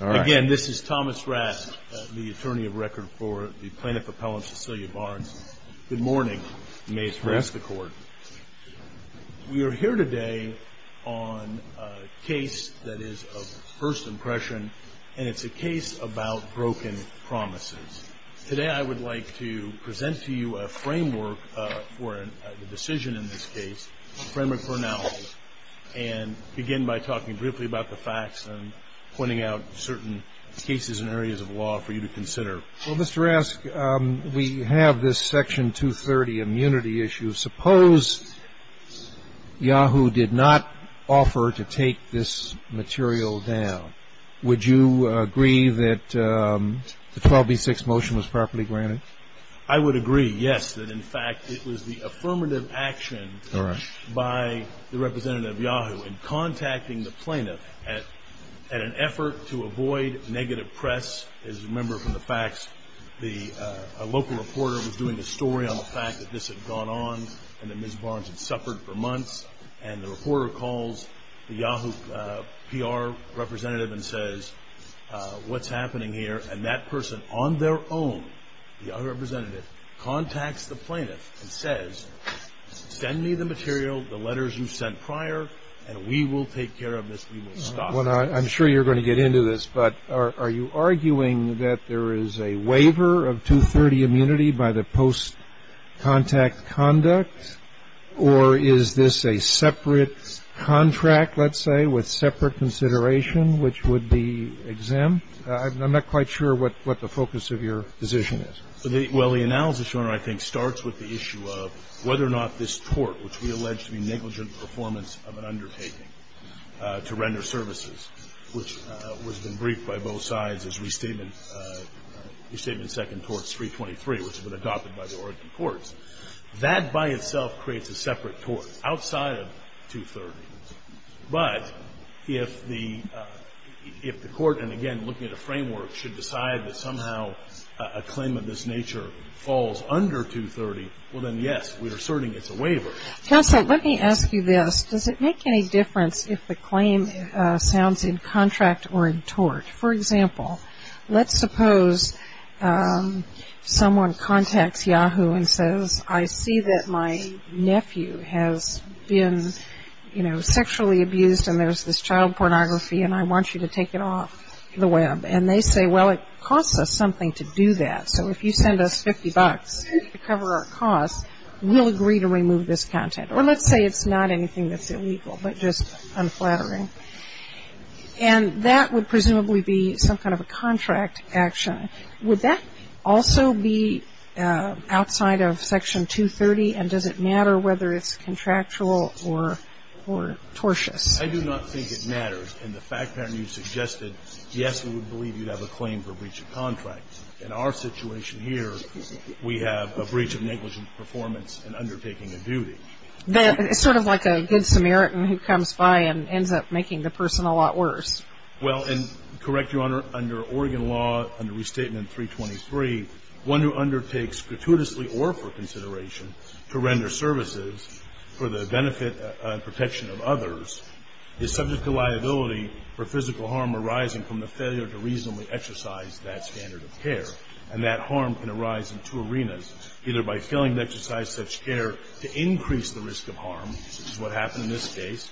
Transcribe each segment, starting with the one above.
Again, this is Thomas Rask, the attorney of record for the plaintiff appellant Cecilia Barnes. Good morning. May it rest the court. We are here today on a case that is of first impression, and it's a case about broken promises. Today I would like to present to you a framework for a decision in this case, a framework for analysis, and begin by talking briefly about the facts and pointing out certain cases and areas of law for you to consider. Well, Mr. Rask, we have this section 230 immunity issue. Suppose Yahoo did not offer to take this material down. Would you agree that the 12b-6 motion was properly granted? I would agree, yes, that in fact it was the affirmative action by the representative Yahoo in contacting the plaintiff at an effort to avoid negative press, as you remember from the facts, a local reporter was doing a story on the fact that this had gone on and that Ms. Barnes had suffered for months, and the reporter calls the Yahoo PR representative and says, what's happening here? And that person on their own, the other representative, contacts the plaintiff and says, send me the material, the letters you sent prior, and we will take care of this. I'm sure you're going to get into this, but are you arguing that there is a waiver of 230 immunity by the post-contact conduct, or is this a separate contract, let's say, with separate consideration, which would be exempt? I'm not quite sure what the focus of your position is. Well, the analysis, Your Honor, I think starts with the issue of whether or not this tort, which we allege to be negligent performance of an undertaking to render services, which has been briefed by both sides as Restatement Second Torts 323, which has been adopted by the Oregon courts, that by itself creates a separate tort outside of 230. But if the court, and again, looking at a framework, should decide that somehow a claim of this nature falls under 230, well then, yes, we're asserting it's a waiver. Counsel, let me ask you this. Does it make any difference if the claim sounds in contract or in tort? For example, let's suppose someone contacts Yahoo and says, I see that my nephew has been, you know, sexually abused, and there's this child pornography, and I want you to take it off the web. And they say, well, it costs us something to do that. So if you send us 50 bucks to cover our costs, we'll agree to remove this content. Or let's say it's not anything that's illegal, but just unflattering. And that would presumably be some kind of a contract action. Would that also be outside of Section 230, and does it matter whether it's contractual or tortious? I do not think it matters. And the fact pattern you suggested, yes, we would believe you'd have a claim for breach of contract. In our situation here, we have a breach of negligent performance in undertaking a duty. It's sort of like a good Samaritan who comes by and ends up making the person a lot worse. Well, and correct Your Honor, under Oregon law, under Restatement 323, one who undertakes gratuitously or for consideration to render services for the benefit and protection of others is subject to liability for physical harm arising from the failure to reasonably exercise that standard of care. And that harm can arise in two arenas, either by failing to exercise such care to increase the risk of harm, which is what happened in this case,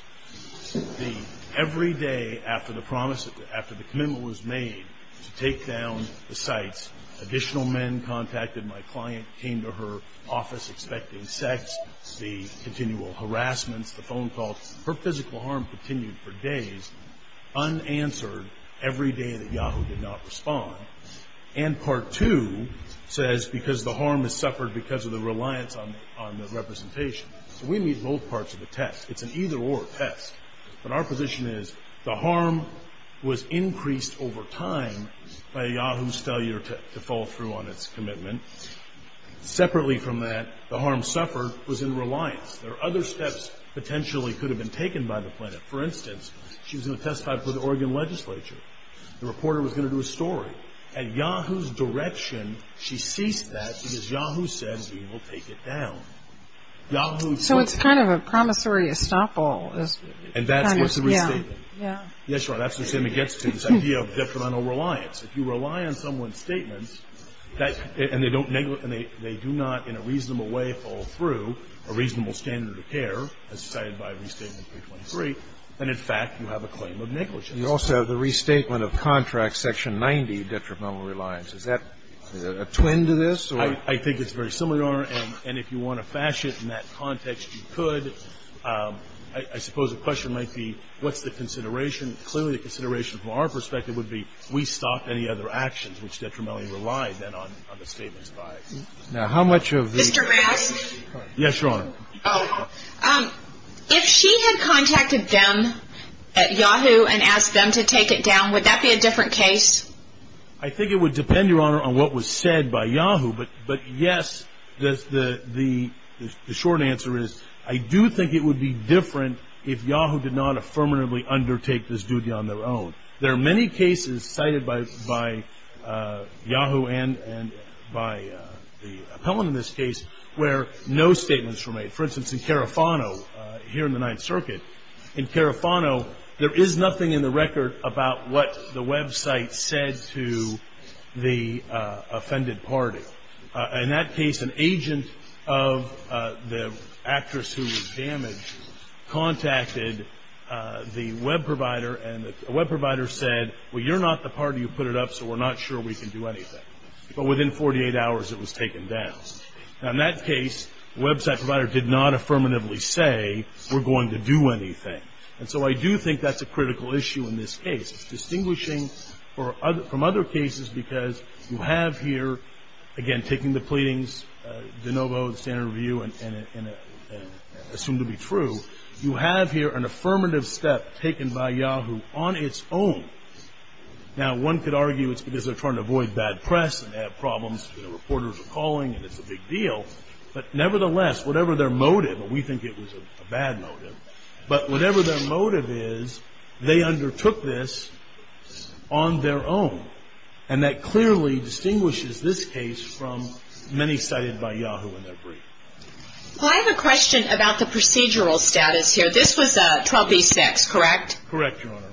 the every day after the promise, after the commitment was made to take down the sites, additional men contacted my client, came to her office expecting sex, the continual harassments, the phone calls. Her physical harm continued for days, unanswered, every day that Yahoo did not respond. And Part 2 says because the harm is suffered because of the reliance on the representation. So we meet both parts of the test. It's an either-or test. But our position is the harm was increased over time by Yahoo's failure to fall through on its commitment. Separately from that, the harm suffered was in reliance. There are other steps potentially could have been taken by the plaintiff. For instance, she was going to testify before the Oregon legislature. The reporter was going to do a story. At Yahoo's direction, she ceased that because Yahoo said we will take it down. Yahoo's point of view. So it's kind of a promissory estoppel. And that's what's the restatement. Yeah. Yeah, sure. That's the same that gets to this idea of detrimental reliance. If you rely on someone's statements, and they do not in a reasonable way fall through, a reasonable standard of care, as cited by Restatement 323, then, in fact, you have a claim of negligence. You also have the restatement of contract section 90, detrimental reliance. Is that a twin to this? I think it's very similar. And if you want to fashion it in that context, you could. I suppose the question might be what's the consideration? Clearly, the consideration from our perspective would be we stopped any other actions which detrimentally relied then on the statements by Yahoo. Now, how much of the ---- Mr. Bass. Yes, Your Honor. If she had contacted them at Yahoo and asked them to take it down, would that be a different case? I think it would depend, Your Honor, on what was said by Yahoo. But, yes, the short answer is I do think it would be different if Yahoo did not affirmatively undertake this duty on their own. There are many cases cited by Yahoo and by the appellant in this case where no statements were made. For instance, in Carafano, here in the Ninth Circuit, in Carafano, there is nothing in the record about what the website said to the offended party. In that case, an agent of the actress who was damaged contacted the web provider and the web provider said, well, you're not the party who put it up, so we're not sure we can do anything. But within 48 hours, it was taken down. Now, in that case, the website provider did not affirmatively say we're going to do anything. And so I do think that's a critical issue in this case. It's distinguishing from other cases because you have here, again, taking the pleadings, de novo, the standard review, and assumed to be true, you have here an affirmative step taken by Yahoo on its own. Now, one could argue it's because they're trying to avoid bad press and have problems. The reporters are calling and it's a big deal. But, nevertheless, whatever their motive, and we think it was a bad motive, but whatever their motive is, they undertook this on their own. And that clearly distinguishes this case from many cited by Yahoo in their brief. Well, I have a question about the procedural status here. This was a 12B6, correct? Correct, Your Honor.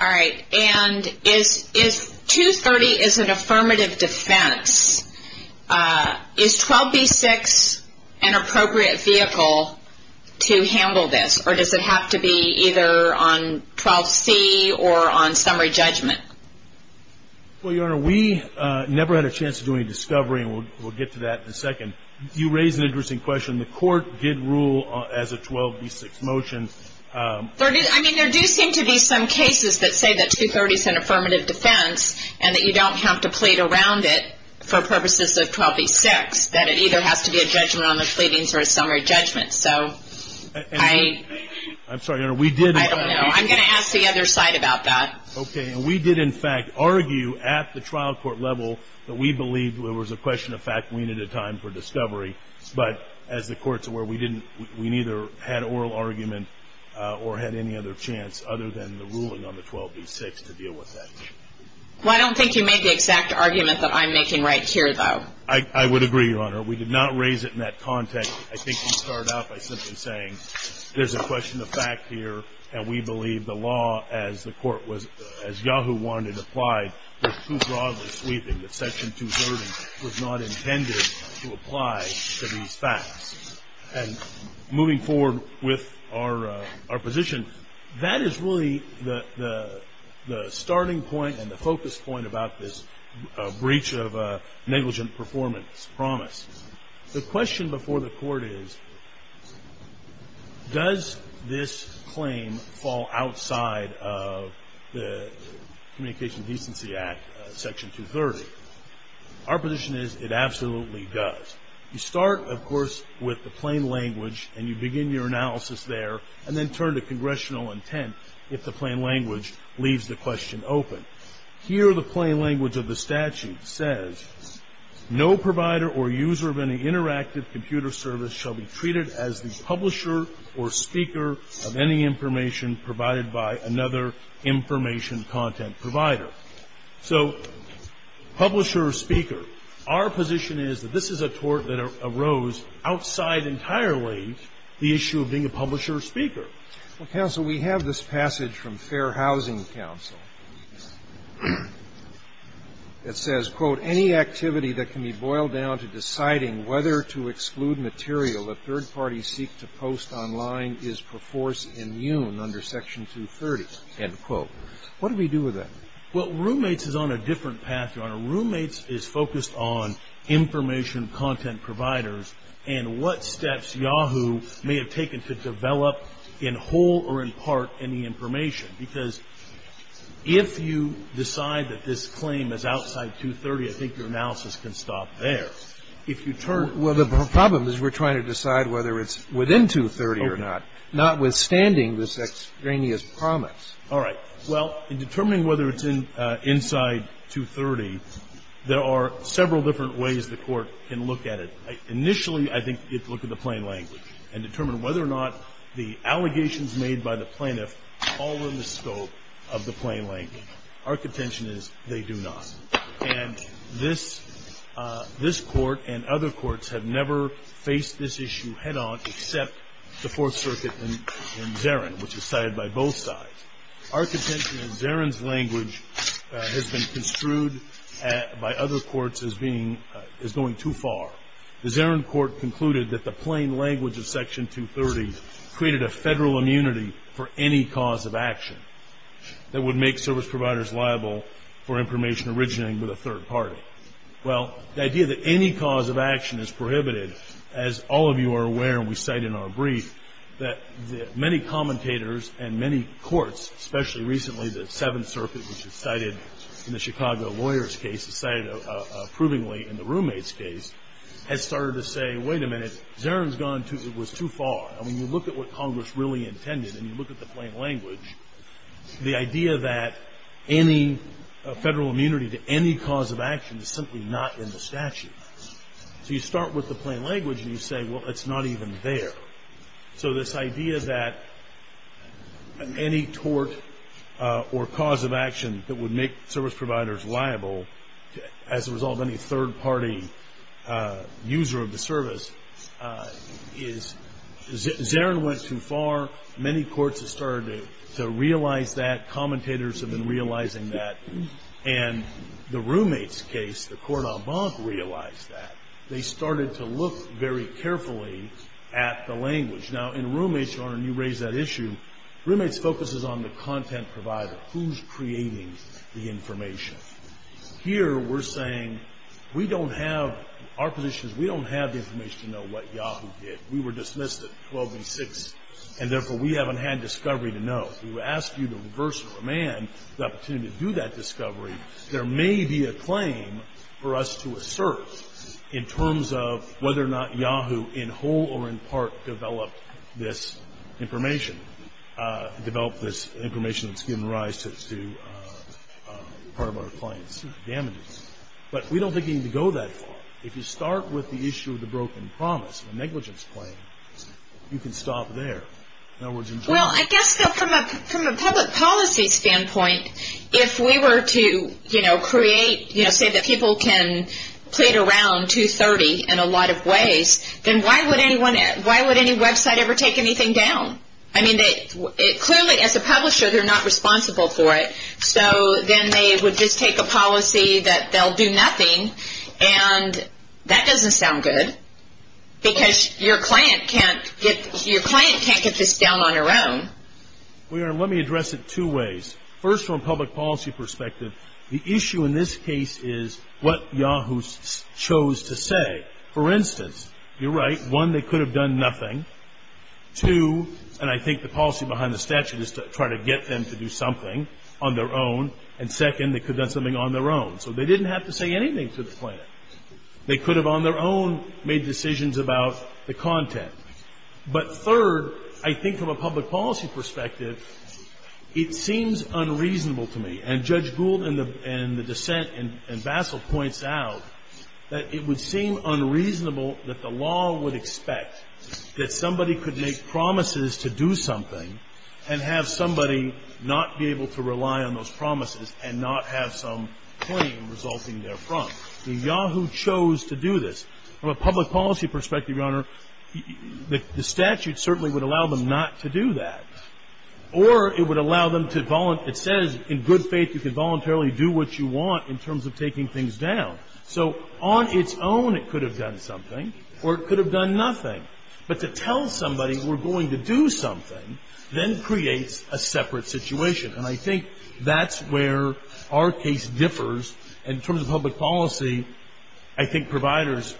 All right. And 230 is an affirmative defense. Is 12B6 an appropriate vehicle to handle this, or does it have to be either on 12C or on summary judgment? Well, Your Honor, we never had a chance to do any discovery, and we'll get to that in a second. You raised an interesting question. The court did rule as a 12B6 motion. I mean, there do seem to be some cases that say that 230 is an affirmative defense and that you don't have to plead around it for purposes of 12B6, that it either has to be a judgment on the pleadings or a summary judgment. So I don't know. I'm going to ask the other side about that. Okay. And we did, in fact, argue at the trial court level that we believed there was a question of fact and we needed a time for discovery. But as the Court's aware, we didn't – we neither had oral argument or had any other chance, other than the ruling on the 12B6, to deal with that. Well, I don't think you made the exact argument that I'm making right here, though. I would agree, Your Honor. We did not raise it in that context. I think you start out by simply saying there's a question of fact here, and we believe the law as the Court was – as Yahoo wanted applied, was too broadly sweeping that Section 230 was not intended to apply to these facts. And moving forward with our position, that is really the starting point and the focus point about this breach of negligent performance promise. The question before the Court is, does this claim fall outside of the Communication Decency Act, Section 230? Our position is it absolutely does. You start, of course, with the plain language and you begin your analysis there and then turn to congressional intent if the plain language leaves the question open. Here, the plain language of the statute says, No provider or user of any interactive computer service shall be treated as the publisher or speaker of any information provided by another information content provider. So publisher or speaker, our position is that this is a tort that arose outside entirely the issue of being a publisher or speaker. Well, counsel, we have this passage from Fair Housing Counsel that says, quote, Any activity that can be boiled down to deciding whether to exclude material a third party seek to post online is perforce immune under Section 230, end quote. What do we do with that? Well, roommates is on a different path, Your Honor. Roommates is focused on information content providers and what steps Yahoo may have taken to develop in whole or in part any information. Because if you decide that this claim is outside 230, I think your analysis can stop there. If you turn to the plain language. Well, the problem is we're trying to decide whether it's within 230 or not, notwithstanding this extraneous promise. All right. Well, in determining whether it's inside 230, there are several different ways the Court can look at it. Initially, I think you have to look at the plain language and determine whether or not the allegations made by the plaintiff fall within the scope of the plain language. Our contention is they do not. And this Court and other courts have never faced this issue head-on except the Fourth Circuit and Zarin, which was cited by both sides. Our contention is Zarin's language has been construed by other courts as being going too far. The Zarin Court concluded that the plain language of Section 230 created a Federal immunity for any cause of action that would make service providers liable for information originating with a third party. Well, the idea that any cause of action is prohibited, as all of you are aware and we cite in our brief, that many commentators and many courts, especially recently the Seventh Circuit, which was cited in the Chicago lawyer's case, cited approvingly in the roommate's case, has started to say, wait a minute, Zarin's gone too far. I mean, you look at what Congress really intended and you look at the plain language, the idea that any Federal immunity to any cause of action is simply not in the statute. So you start with the plain language and you say, well, it's not even there. So this idea that any tort or cause of action that would make service providers liable as a result of any third party user of the service is Zarin went too far. Many courts have started to realize that. Commentators have been realizing that. And the roommate's case, the court en banc realized that. They started to look very carefully at the language. Now, in roommate's, Your Honor, and you raised that issue, roommate's focuses on the Here we're saying we don't have, our position is we don't have the information to know what Yahoo did. We were dismissed at 12 and 6, and therefore we haven't had discovery to know. We would ask you to reverse command the opportunity to do that discovery. There may be a claim for us to assert in terms of whether or not Yahoo in whole or in part developed this information, developed this information that's given rise to part of our clients' damages. But we don't think you need to go that far. If you start with the issue of the broken promise, the negligence claim, you can stop there. Well, I guess from a public policy standpoint, if we were to, you know, create, you know, say that people can plead around 230 in a lot of ways, then why would anyone, why would any website ever take anything down? I mean, clearly as a publisher, they're not responsible for it. So then they would just take a policy that they'll do nothing, and that doesn't sound good, because your client can't get this down on their own. Your Honor, let me address it two ways. First, from a public policy perspective, the issue in this case is what Yahoo chose to say. For instance, you're right, one, they could have done nothing. Two, and I think the policy behind the statute is to try to get them to do something on their own. And second, they could have done something on their own. So they didn't have to say anything to the plaintiff. They could have on their own made decisions about the content. But third, I think from a public policy perspective, it seems unreasonable to me. And Judge Gould and the dissent and Bassel points out that it would seem unreasonable that the law would expect that somebody could make promises to do something and have somebody not be able to rely on those promises and not have some claim resulting therefrom. Yahoo chose to do this. From a public policy perspective, Your Honor, the statute certainly would allow them not to do that. Or it would allow them to volunteer. It says in good faith you could voluntarily do what you want in terms of taking things down. So on its own it could have done something or it could have done nothing. But to tell somebody we're going to do something then creates a separate situation. And I think that's where our case differs. In terms of public policy, I think providers,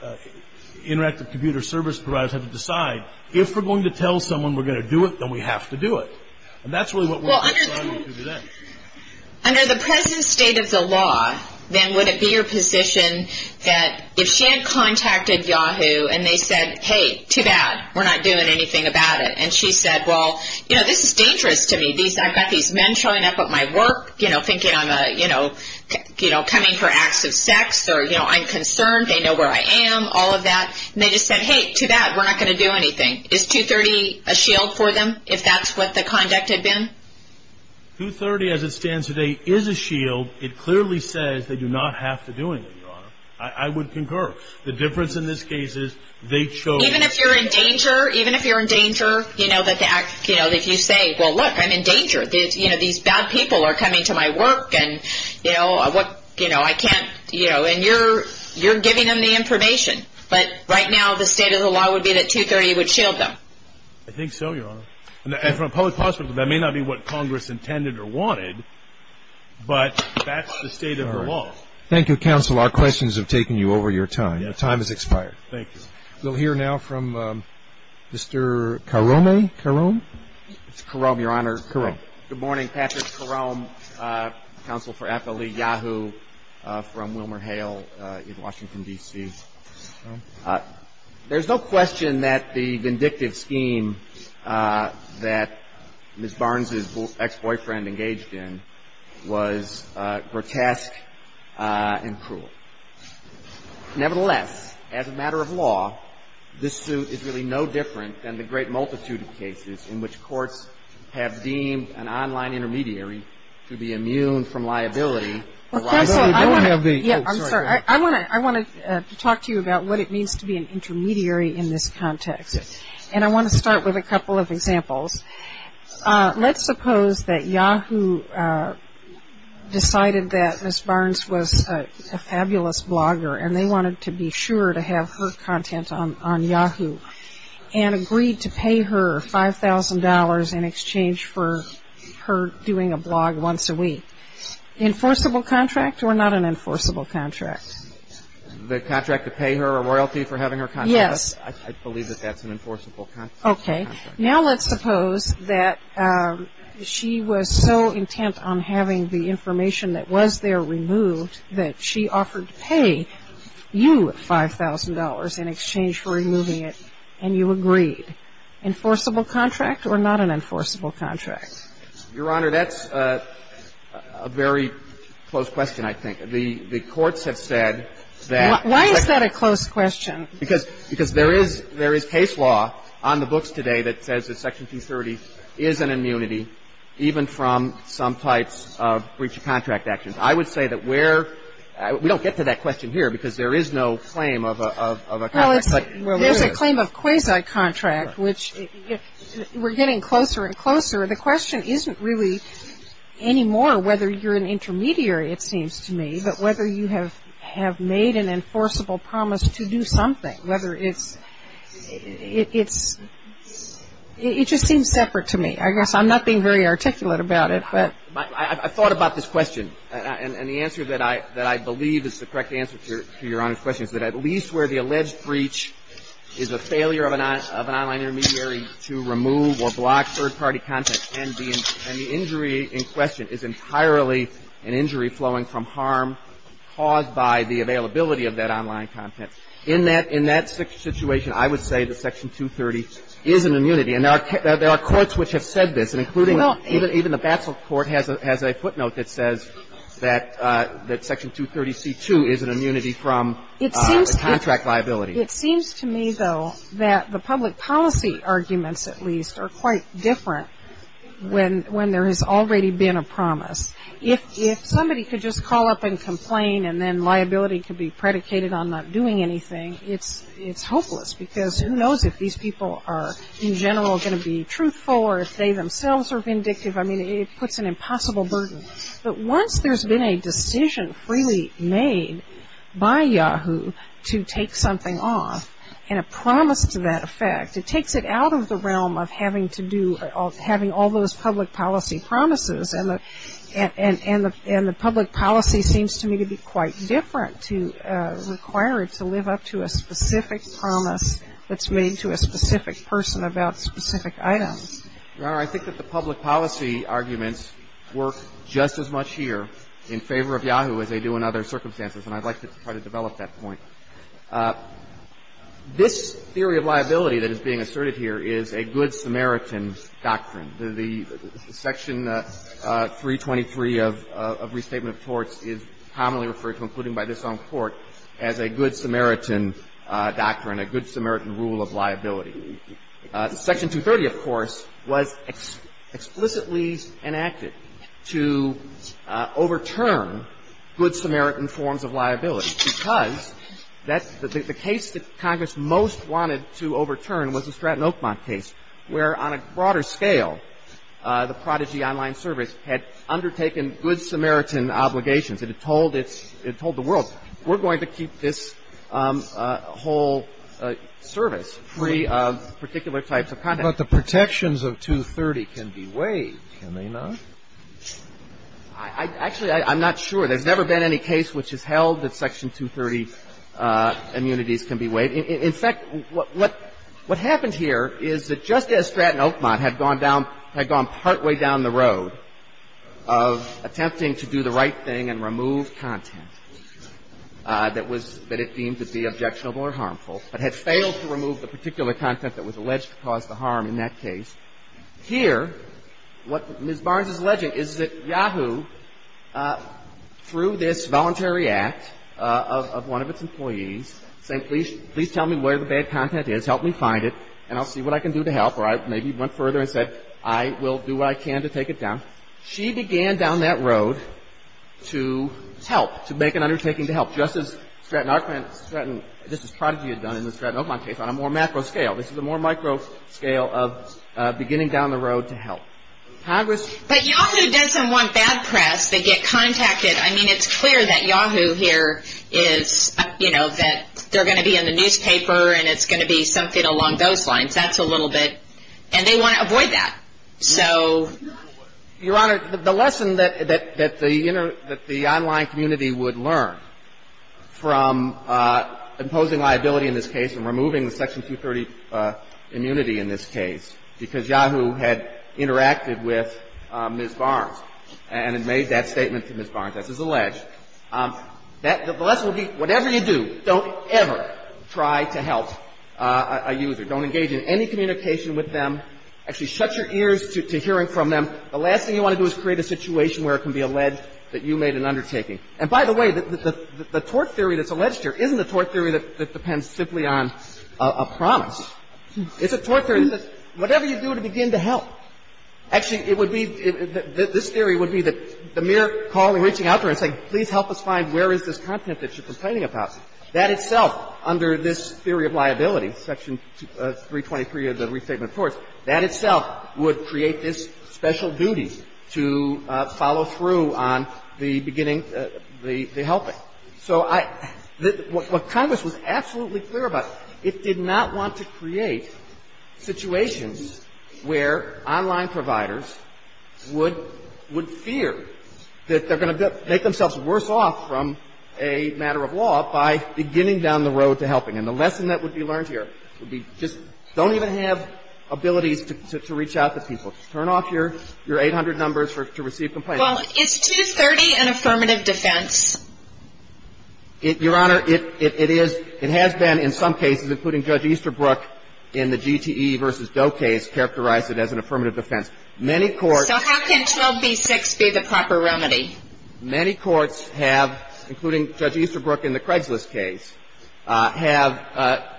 interactive computer service providers have to decide if we're going to tell someone we're going to do it, then we have to do it. And that's really what we're deciding to do then. Under the present state of the law, then would it be your position that if she had contacted Yahoo and they said, hey, too bad, we're not doing anything about it. And she said, well, you know, this is dangerous to me. I've got these men showing up at my work, you know, thinking I'm coming for acts of sex or, you know, I'm concerned, they know where I am, all of that. And they just said, hey, too bad, we're not going to do anything. Is 230 a shield for them if that's what the conduct had been? 230, as it stands today, is a shield. It clearly says they do not have to do anything, Your Honor. I would concur. The difference in this case is they chose. Even if you're in danger, even if you're in danger, you know, that the act, you know, if you say, well, look, I'm in danger. You know, these bad people are coming to my work and, you know, I can't, you know, and you're giving them the information. But right now the state of the law would be that 230 would shield them. I think so, Your Honor. And from a public perspective, that may not be what Congress intended or wanted, but that's the state of the law. All right. Thank you, Counsel. Our questions have taken you over your time. Your time has expired. Thank you. We'll hear now from Mr. Karome. Karome? It's Karome, Your Honor. Karome. Good morning. Patrick Karome, counsel for FLE-Yahoo from WilmerHale in Washington, D.C. I want to ask you a question. There's no question that the vindictive scheme that Ms. Barnes' ex-boyfriend engaged in was grotesque and cruel. Nevertheless, as a matter of law, this suit is really no different than the great multitude of cases in which courts have deemed an online intermediary to be immune from liability. Counsel, I want to talk to you about what it means to be an intermediary in this context, and I want to start with a couple of examples. Let's suppose that Yahoo decided that Ms. Barnes was a fabulous blogger and they wanted to be sure to have her content on Yahoo and agreed to pay her $5,000 in exchange for her doing a blog once a week. Enforceable contract or not an enforceable contract? The contract to pay her a royalty for having her content? Yes. I believe that that's an enforceable contract. Okay. Now let's suppose that she was so intent on having the information that was there removed that she offered to pay you $5,000 in exchange for removing it and you agreed. Enforceable contract or not an enforceable contract? Your Honor, that's a very close question, I think. The courts have said that section 230 is an immunity, even from some types of breach of contract actions. I would say that we don't get to that question here because there is no claim of a contract. There's a claim of quasi-contract, which we're getting closer and closer. The question isn't really anymore whether you're an intermediary, it seems to me, but whether you have made an enforceable promise to do something. It just seems separate to me. I guess I'm not being very articulate about it. I thought about this question and the answer that I believe is the correct answer to Your Honor's question is that at least where the alleged breach is a failure of an online intermediary to remove or block third-party content and the injury in question is entirely an injury flowing from harm caused by the availability of that online content, in that situation, I would say that section 230 is an immunity. And there are courts which have said this, including even the Basel court has a footnote that says that section 230C2 is an immunity from contract liability. It seems to me, though, that the public policy arguments, at least, are quite different when there has already been a promise. If somebody could just call up and complain and then liability could be predicated on not doing anything, it's hopeless because who knows if these people are, in general, going to be truthful or if they themselves are vindictive. I mean, it puts an impossible burden. But once there's been a decision freely made by Yahoo to take something off and a promise to that effect, it takes it out of the realm of having to do, having all those public policy promises. And the public policy seems to me to be quite different to require it to live up to a specific promise that's made to a specific person about specific items. Your Honor, I think that the public policy arguments work just as much here in favor of Yahoo as they do in other circumstances, and I'd like to try to develop that point. This theory of liability that is being asserted here is a good Samaritan doctrine. The section 323 of Restatement of Torts is commonly referred to, including by this young court, as a good Samaritan doctrine, a good Samaritan rule of liability. Section 230, of course, was explicitly enacted to overturn good Samaritan forms of liability because the case that Congress most wanted to overturn was the Stratton Oakmont case, where on a broader scale, the Prodigy Online Service had undertaken good Samaritan obligations. It had told the world, we're going to keep this whole service free of particular types of conduct. But the protections of 230 can be waived, can they not? Actually, I'm not sure. There's never been any case which has held that section 230 immunities can be waived. In fact, what happened here is that just as Stratton Oakmont had gone down, had gone through the right thing and removed content that it deemed to be objectionable or harmful, but had failed to remove the particular content that was alleged to cause the harm in that case, here, what Ms. Barnes is alleging is that Yahoo, through this voluntary act of one of its employees, saying, please tell me where the bad content is, help me find it, and I'll see what I can do to help, or I maybe went further and said, I will do what I can to take it down. She began down that road to help, to make an undertaking to help, just as Stratton Oakmont, just as Prodigy had done in the Stratton Oakmont case on a more macro scale. This is a more micro scale of beginning down the road to help. Congress But Yahoo doesn't want bad press. They get contacted. I mean, it's clear that Yahoo here is, you know, that they're going to be in the newspaper and it's going to be something along those lines. That's a little bit, and they want to avoid that. So, Your Honor, the lesson that the online community would learn from imposing liability in this case and removing the Section 230 immunity in this case, because Yahoo had interacted with Ms. Barnes and had made that statement to Ms. Barnes, as is alleged, the lesson would be, whatever you do, don't ever try to help a user. Don't engage in any communication with them. Actually, shut your ears to hearing from them. The last thing you want to do is create a situation where it can be alleged that you made an undertaking. And by the way, the tort theory that's alleged here isn't a tort theory that depends simply on a promise. It's a tort theory that whatever you do to begin to help. Actually, it would be, this theory would be that the mere calling, reaching out to her and saying, please help us find where is this content that you're complaining about, that itself, under this theory of liability, Section 323 of the Restatement of Torts, that itself would create this special duty to follow through on the beginning of the helping. So I, what Congress was absolutely clear about, it did not want to create situations where online providers would fear that they're going to make themselves worse off from a matter of law by beginning down the road to helping. And the lesson that would be learned here would be just don't even have abilities to reach out to people. Just turn off your 800 numbers to receive complaints. Well, is 230 an affirmative defense? Your Honor, it is. It has been in some cases, including Judge Easterbrook in the GTE v. Doe case, characterized it as an affirmative defense. Many courts So how can 12b-6 be the proper remedy? Many courts have, including Judge Easterbrook in the Craigslist case, have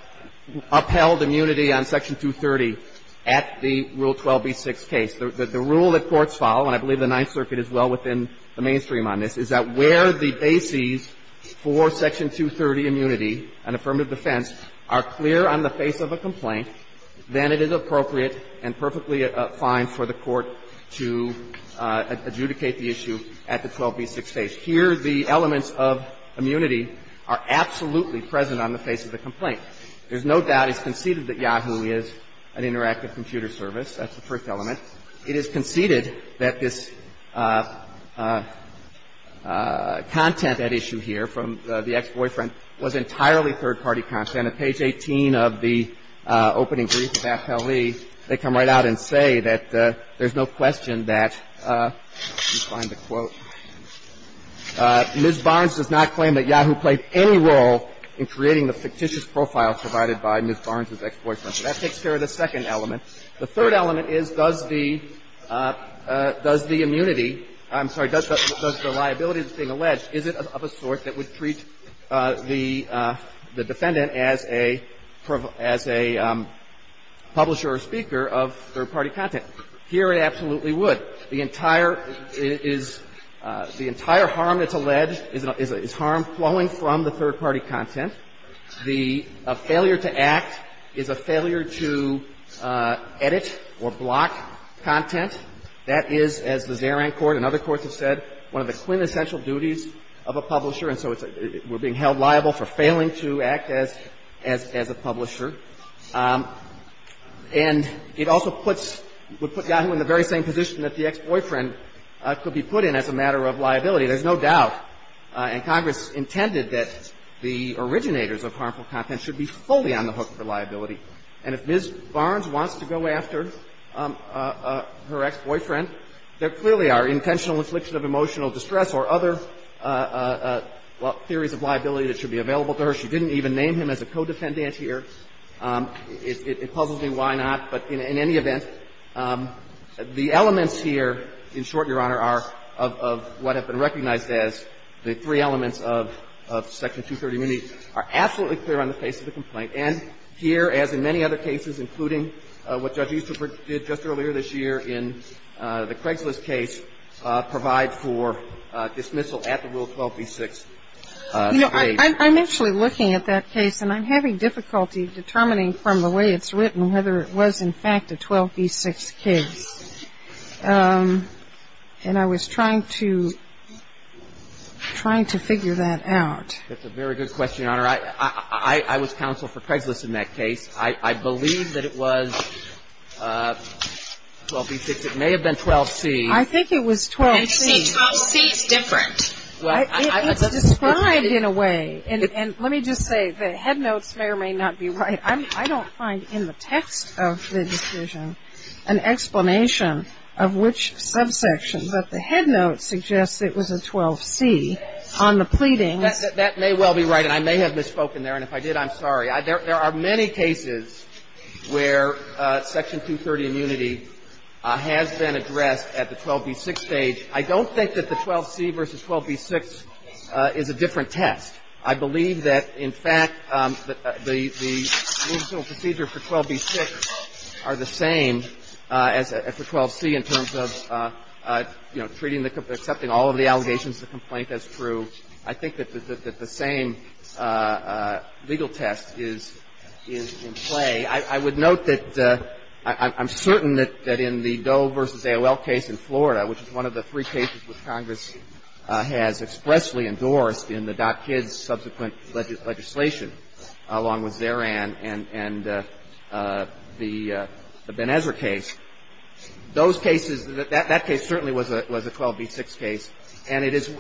upheld immunity on Section 230 at the Rule 12b-6 case. The rule that courts follow, and I believe the Ninth Circuit is well within the mainstream on this, is that where the bases for Section 230 immunity, an affirmative defense, are clear on the face of a complaint, then it is appropriate and perfectly fine for the court to adjudicate the issue at the 12b-6 case. Here, the elements of immunity are absolutely present on the face of the complaint. There's no doubt it's conceded that Yahoo is an interactive computer service. That's the first element. It is conceded that this content at issue here from the ex-boyfriend was entirely third-party content. On page 18 of the opening brief of AFL-E, they come right out and say that there's no question that, let me find the quote, Ms. Barnes does not claim that Yahoo played any role in creating the fictitious profile provided by Ms. Barnes's ex-boyfriend. So that takes care of the second element. The third element is, does the immunity, I'm sorry, does the liability that's the defendant as a publisher or speaker of third-party content? Here, it absolutely would. The entire harm that's alleged is harm flowing from the third-party content. The failure to act is a failure to edit or block content. That is, as the Zaran court and other courts have said, one of the quintessential duties of a publisher. And so we're being held liable for failing to act as a publisher. And it also puts, would put Yahoo in the very same position that the ex-boyfriend could be put in as a matter of liability. There's no doubt, and Congress intended that the originators of harmful content should be fully on the hook for liability. And if Ms. Barnes wants to go after her ex-boyfriend, there clearly are intentional infliction of emotional distress or other theories of liability that should be available to her. She didn't even name him as a co-defendant here. It puzzles me why not. But in any event, the elements here, in short, Your Honor, are of what have been recognized as the three elements of Section 230 immunity are absolutely clear on the face of the complaint. And here, as in many other cases, including what Judge Easterbrook did just earlier this year in the Craigslist case, provide for dismissal at the Rule 12b-6 stage. You know, I'm actually looking at that case, and I'm having difficulty determining from the way it's written whether it was in fact a 12b-6 case. And I was trying to figure that out. That's a very good question, Your Honor. I was counsel for Craigslist in that case. I believe that it was 12b-6. It may have been 12c. I think it was 12c. 12c is different. It's described in a way. And let me just say, the head notes may or may not be right. I don't find in the text of the decision an explanation of which subsection. But the head notes suggest it was a 12c on the pleadings. That may well be right. And I may have misspoken there. And if I did, I'm sorry. There are many cases where Section 230 immunity has been addressed at the 12b-6 stage. I don't think that the 12c versus 12b-6 is a different test. I believe that, in fact, the procedural procedure for 12b-6 are the same as for 12c in terms of, you know, treating the – accepting all of the allegations of the complaint as true. I think that the same legal test is in play. I would note that I'm certain that in the Doe v. AOL case in Florida, which is one of the three cases which Congress has expressly endorsed in the Dot Kids subsequent legislation, along with Zeran and the Benezer case, those cases, that case certainly was a 12b-6 case. And it is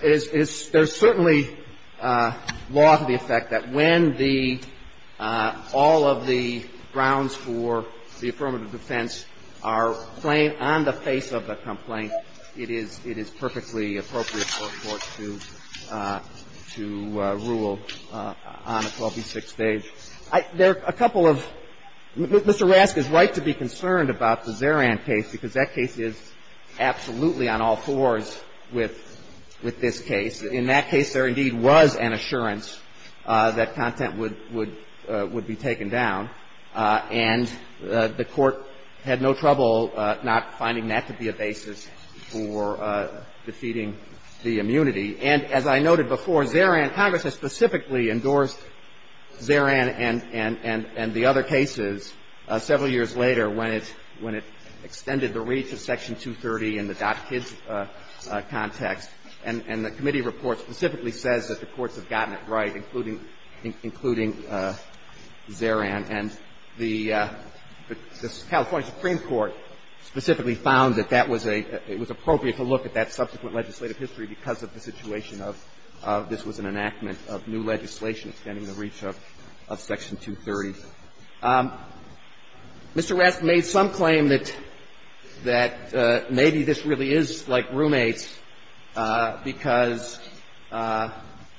– there's certainly law to the effect that when the – all of the grounds for the affirmative defense are plain on the face of the complaint, it is perfectly appropriate for a court to rule on a 12b-6 stage. There are a couple of – Mr. Rask is right to be concerned about the Zeran case, because that case is absolutely on all fours with this case. In that case, there indeed was an assurance that content would be taken down, and the Court had no trouble not finding that to be a basis for defeating the immunity. And as I noted before, Zeran – Congress has specifically endorsed Zeran and the other cases several years later when it extended the reach of Section 230 in the Dot Kids context, and the committee report specifically says that the courts have gotten it right, including Zeran. And the California Supreme Court specifically found that that was a – it was appropriate to look at that subsequent legislative history because of the situation of this was an enactment of new legislation extending the reach of Section 230. Mr. Rask made some claim that maybe this really is like roommates because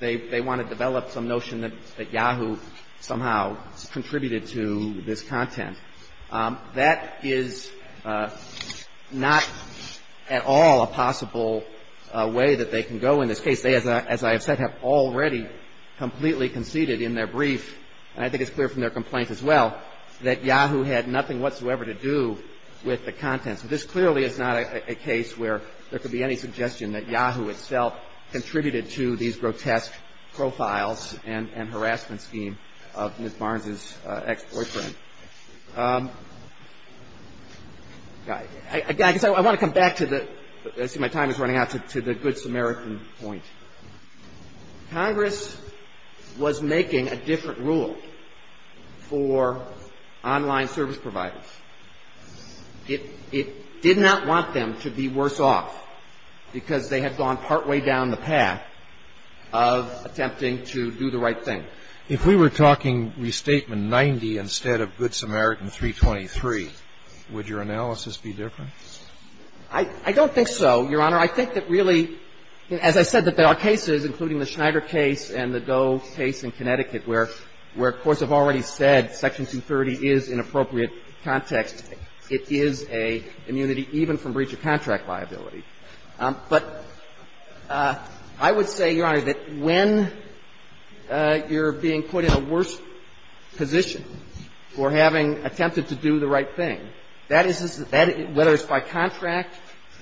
they want to develop some notion that Yahoo somehow contributed to this content. That is not at all a possible way that they can go in this case. They, as I have said, have already completely conceded in their brief, and I think it's clear from their complaint as well, that Yahoo had nothing whatsoever to do with the content. So this clearly is not a case where there could be any suggestion that Yahoo itself contributed to these grotesque profiles and harassment scheme of Ms. Barnes's ex-boyfriend. I guess I want to come back to the – I see my time is running out – to the Good Samaritan point. Congress was making a different rule for online service providers. It did not want them to be worse off because they had gone partway down the path of attempting to do the right thing. If we were talking Restatement 90 instead of Good Samaritan 323, would your analysis be different? I don't think so, Your Honor. I think that really, as I said, that there are cases, including the Schneider case and the Doe case in Connecticut, where courts have already said Section 230 is in appropriate context. It is an immunity even from breach of contract liability. But I would say, Your Honor, that when you're being put in a worse position for having attempted to do the right thing, that is, whether it's by contract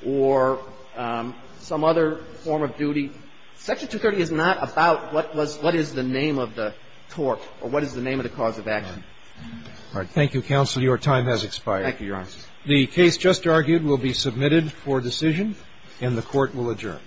or some other form of duty, Section 230 is not about what is the name of the tort or what is the name of the cause of action. All right. Thank you, counsel. Your time has expired. Thank you, Your Honor. The case just argued will be submitted for decision, and the Court will adjourn.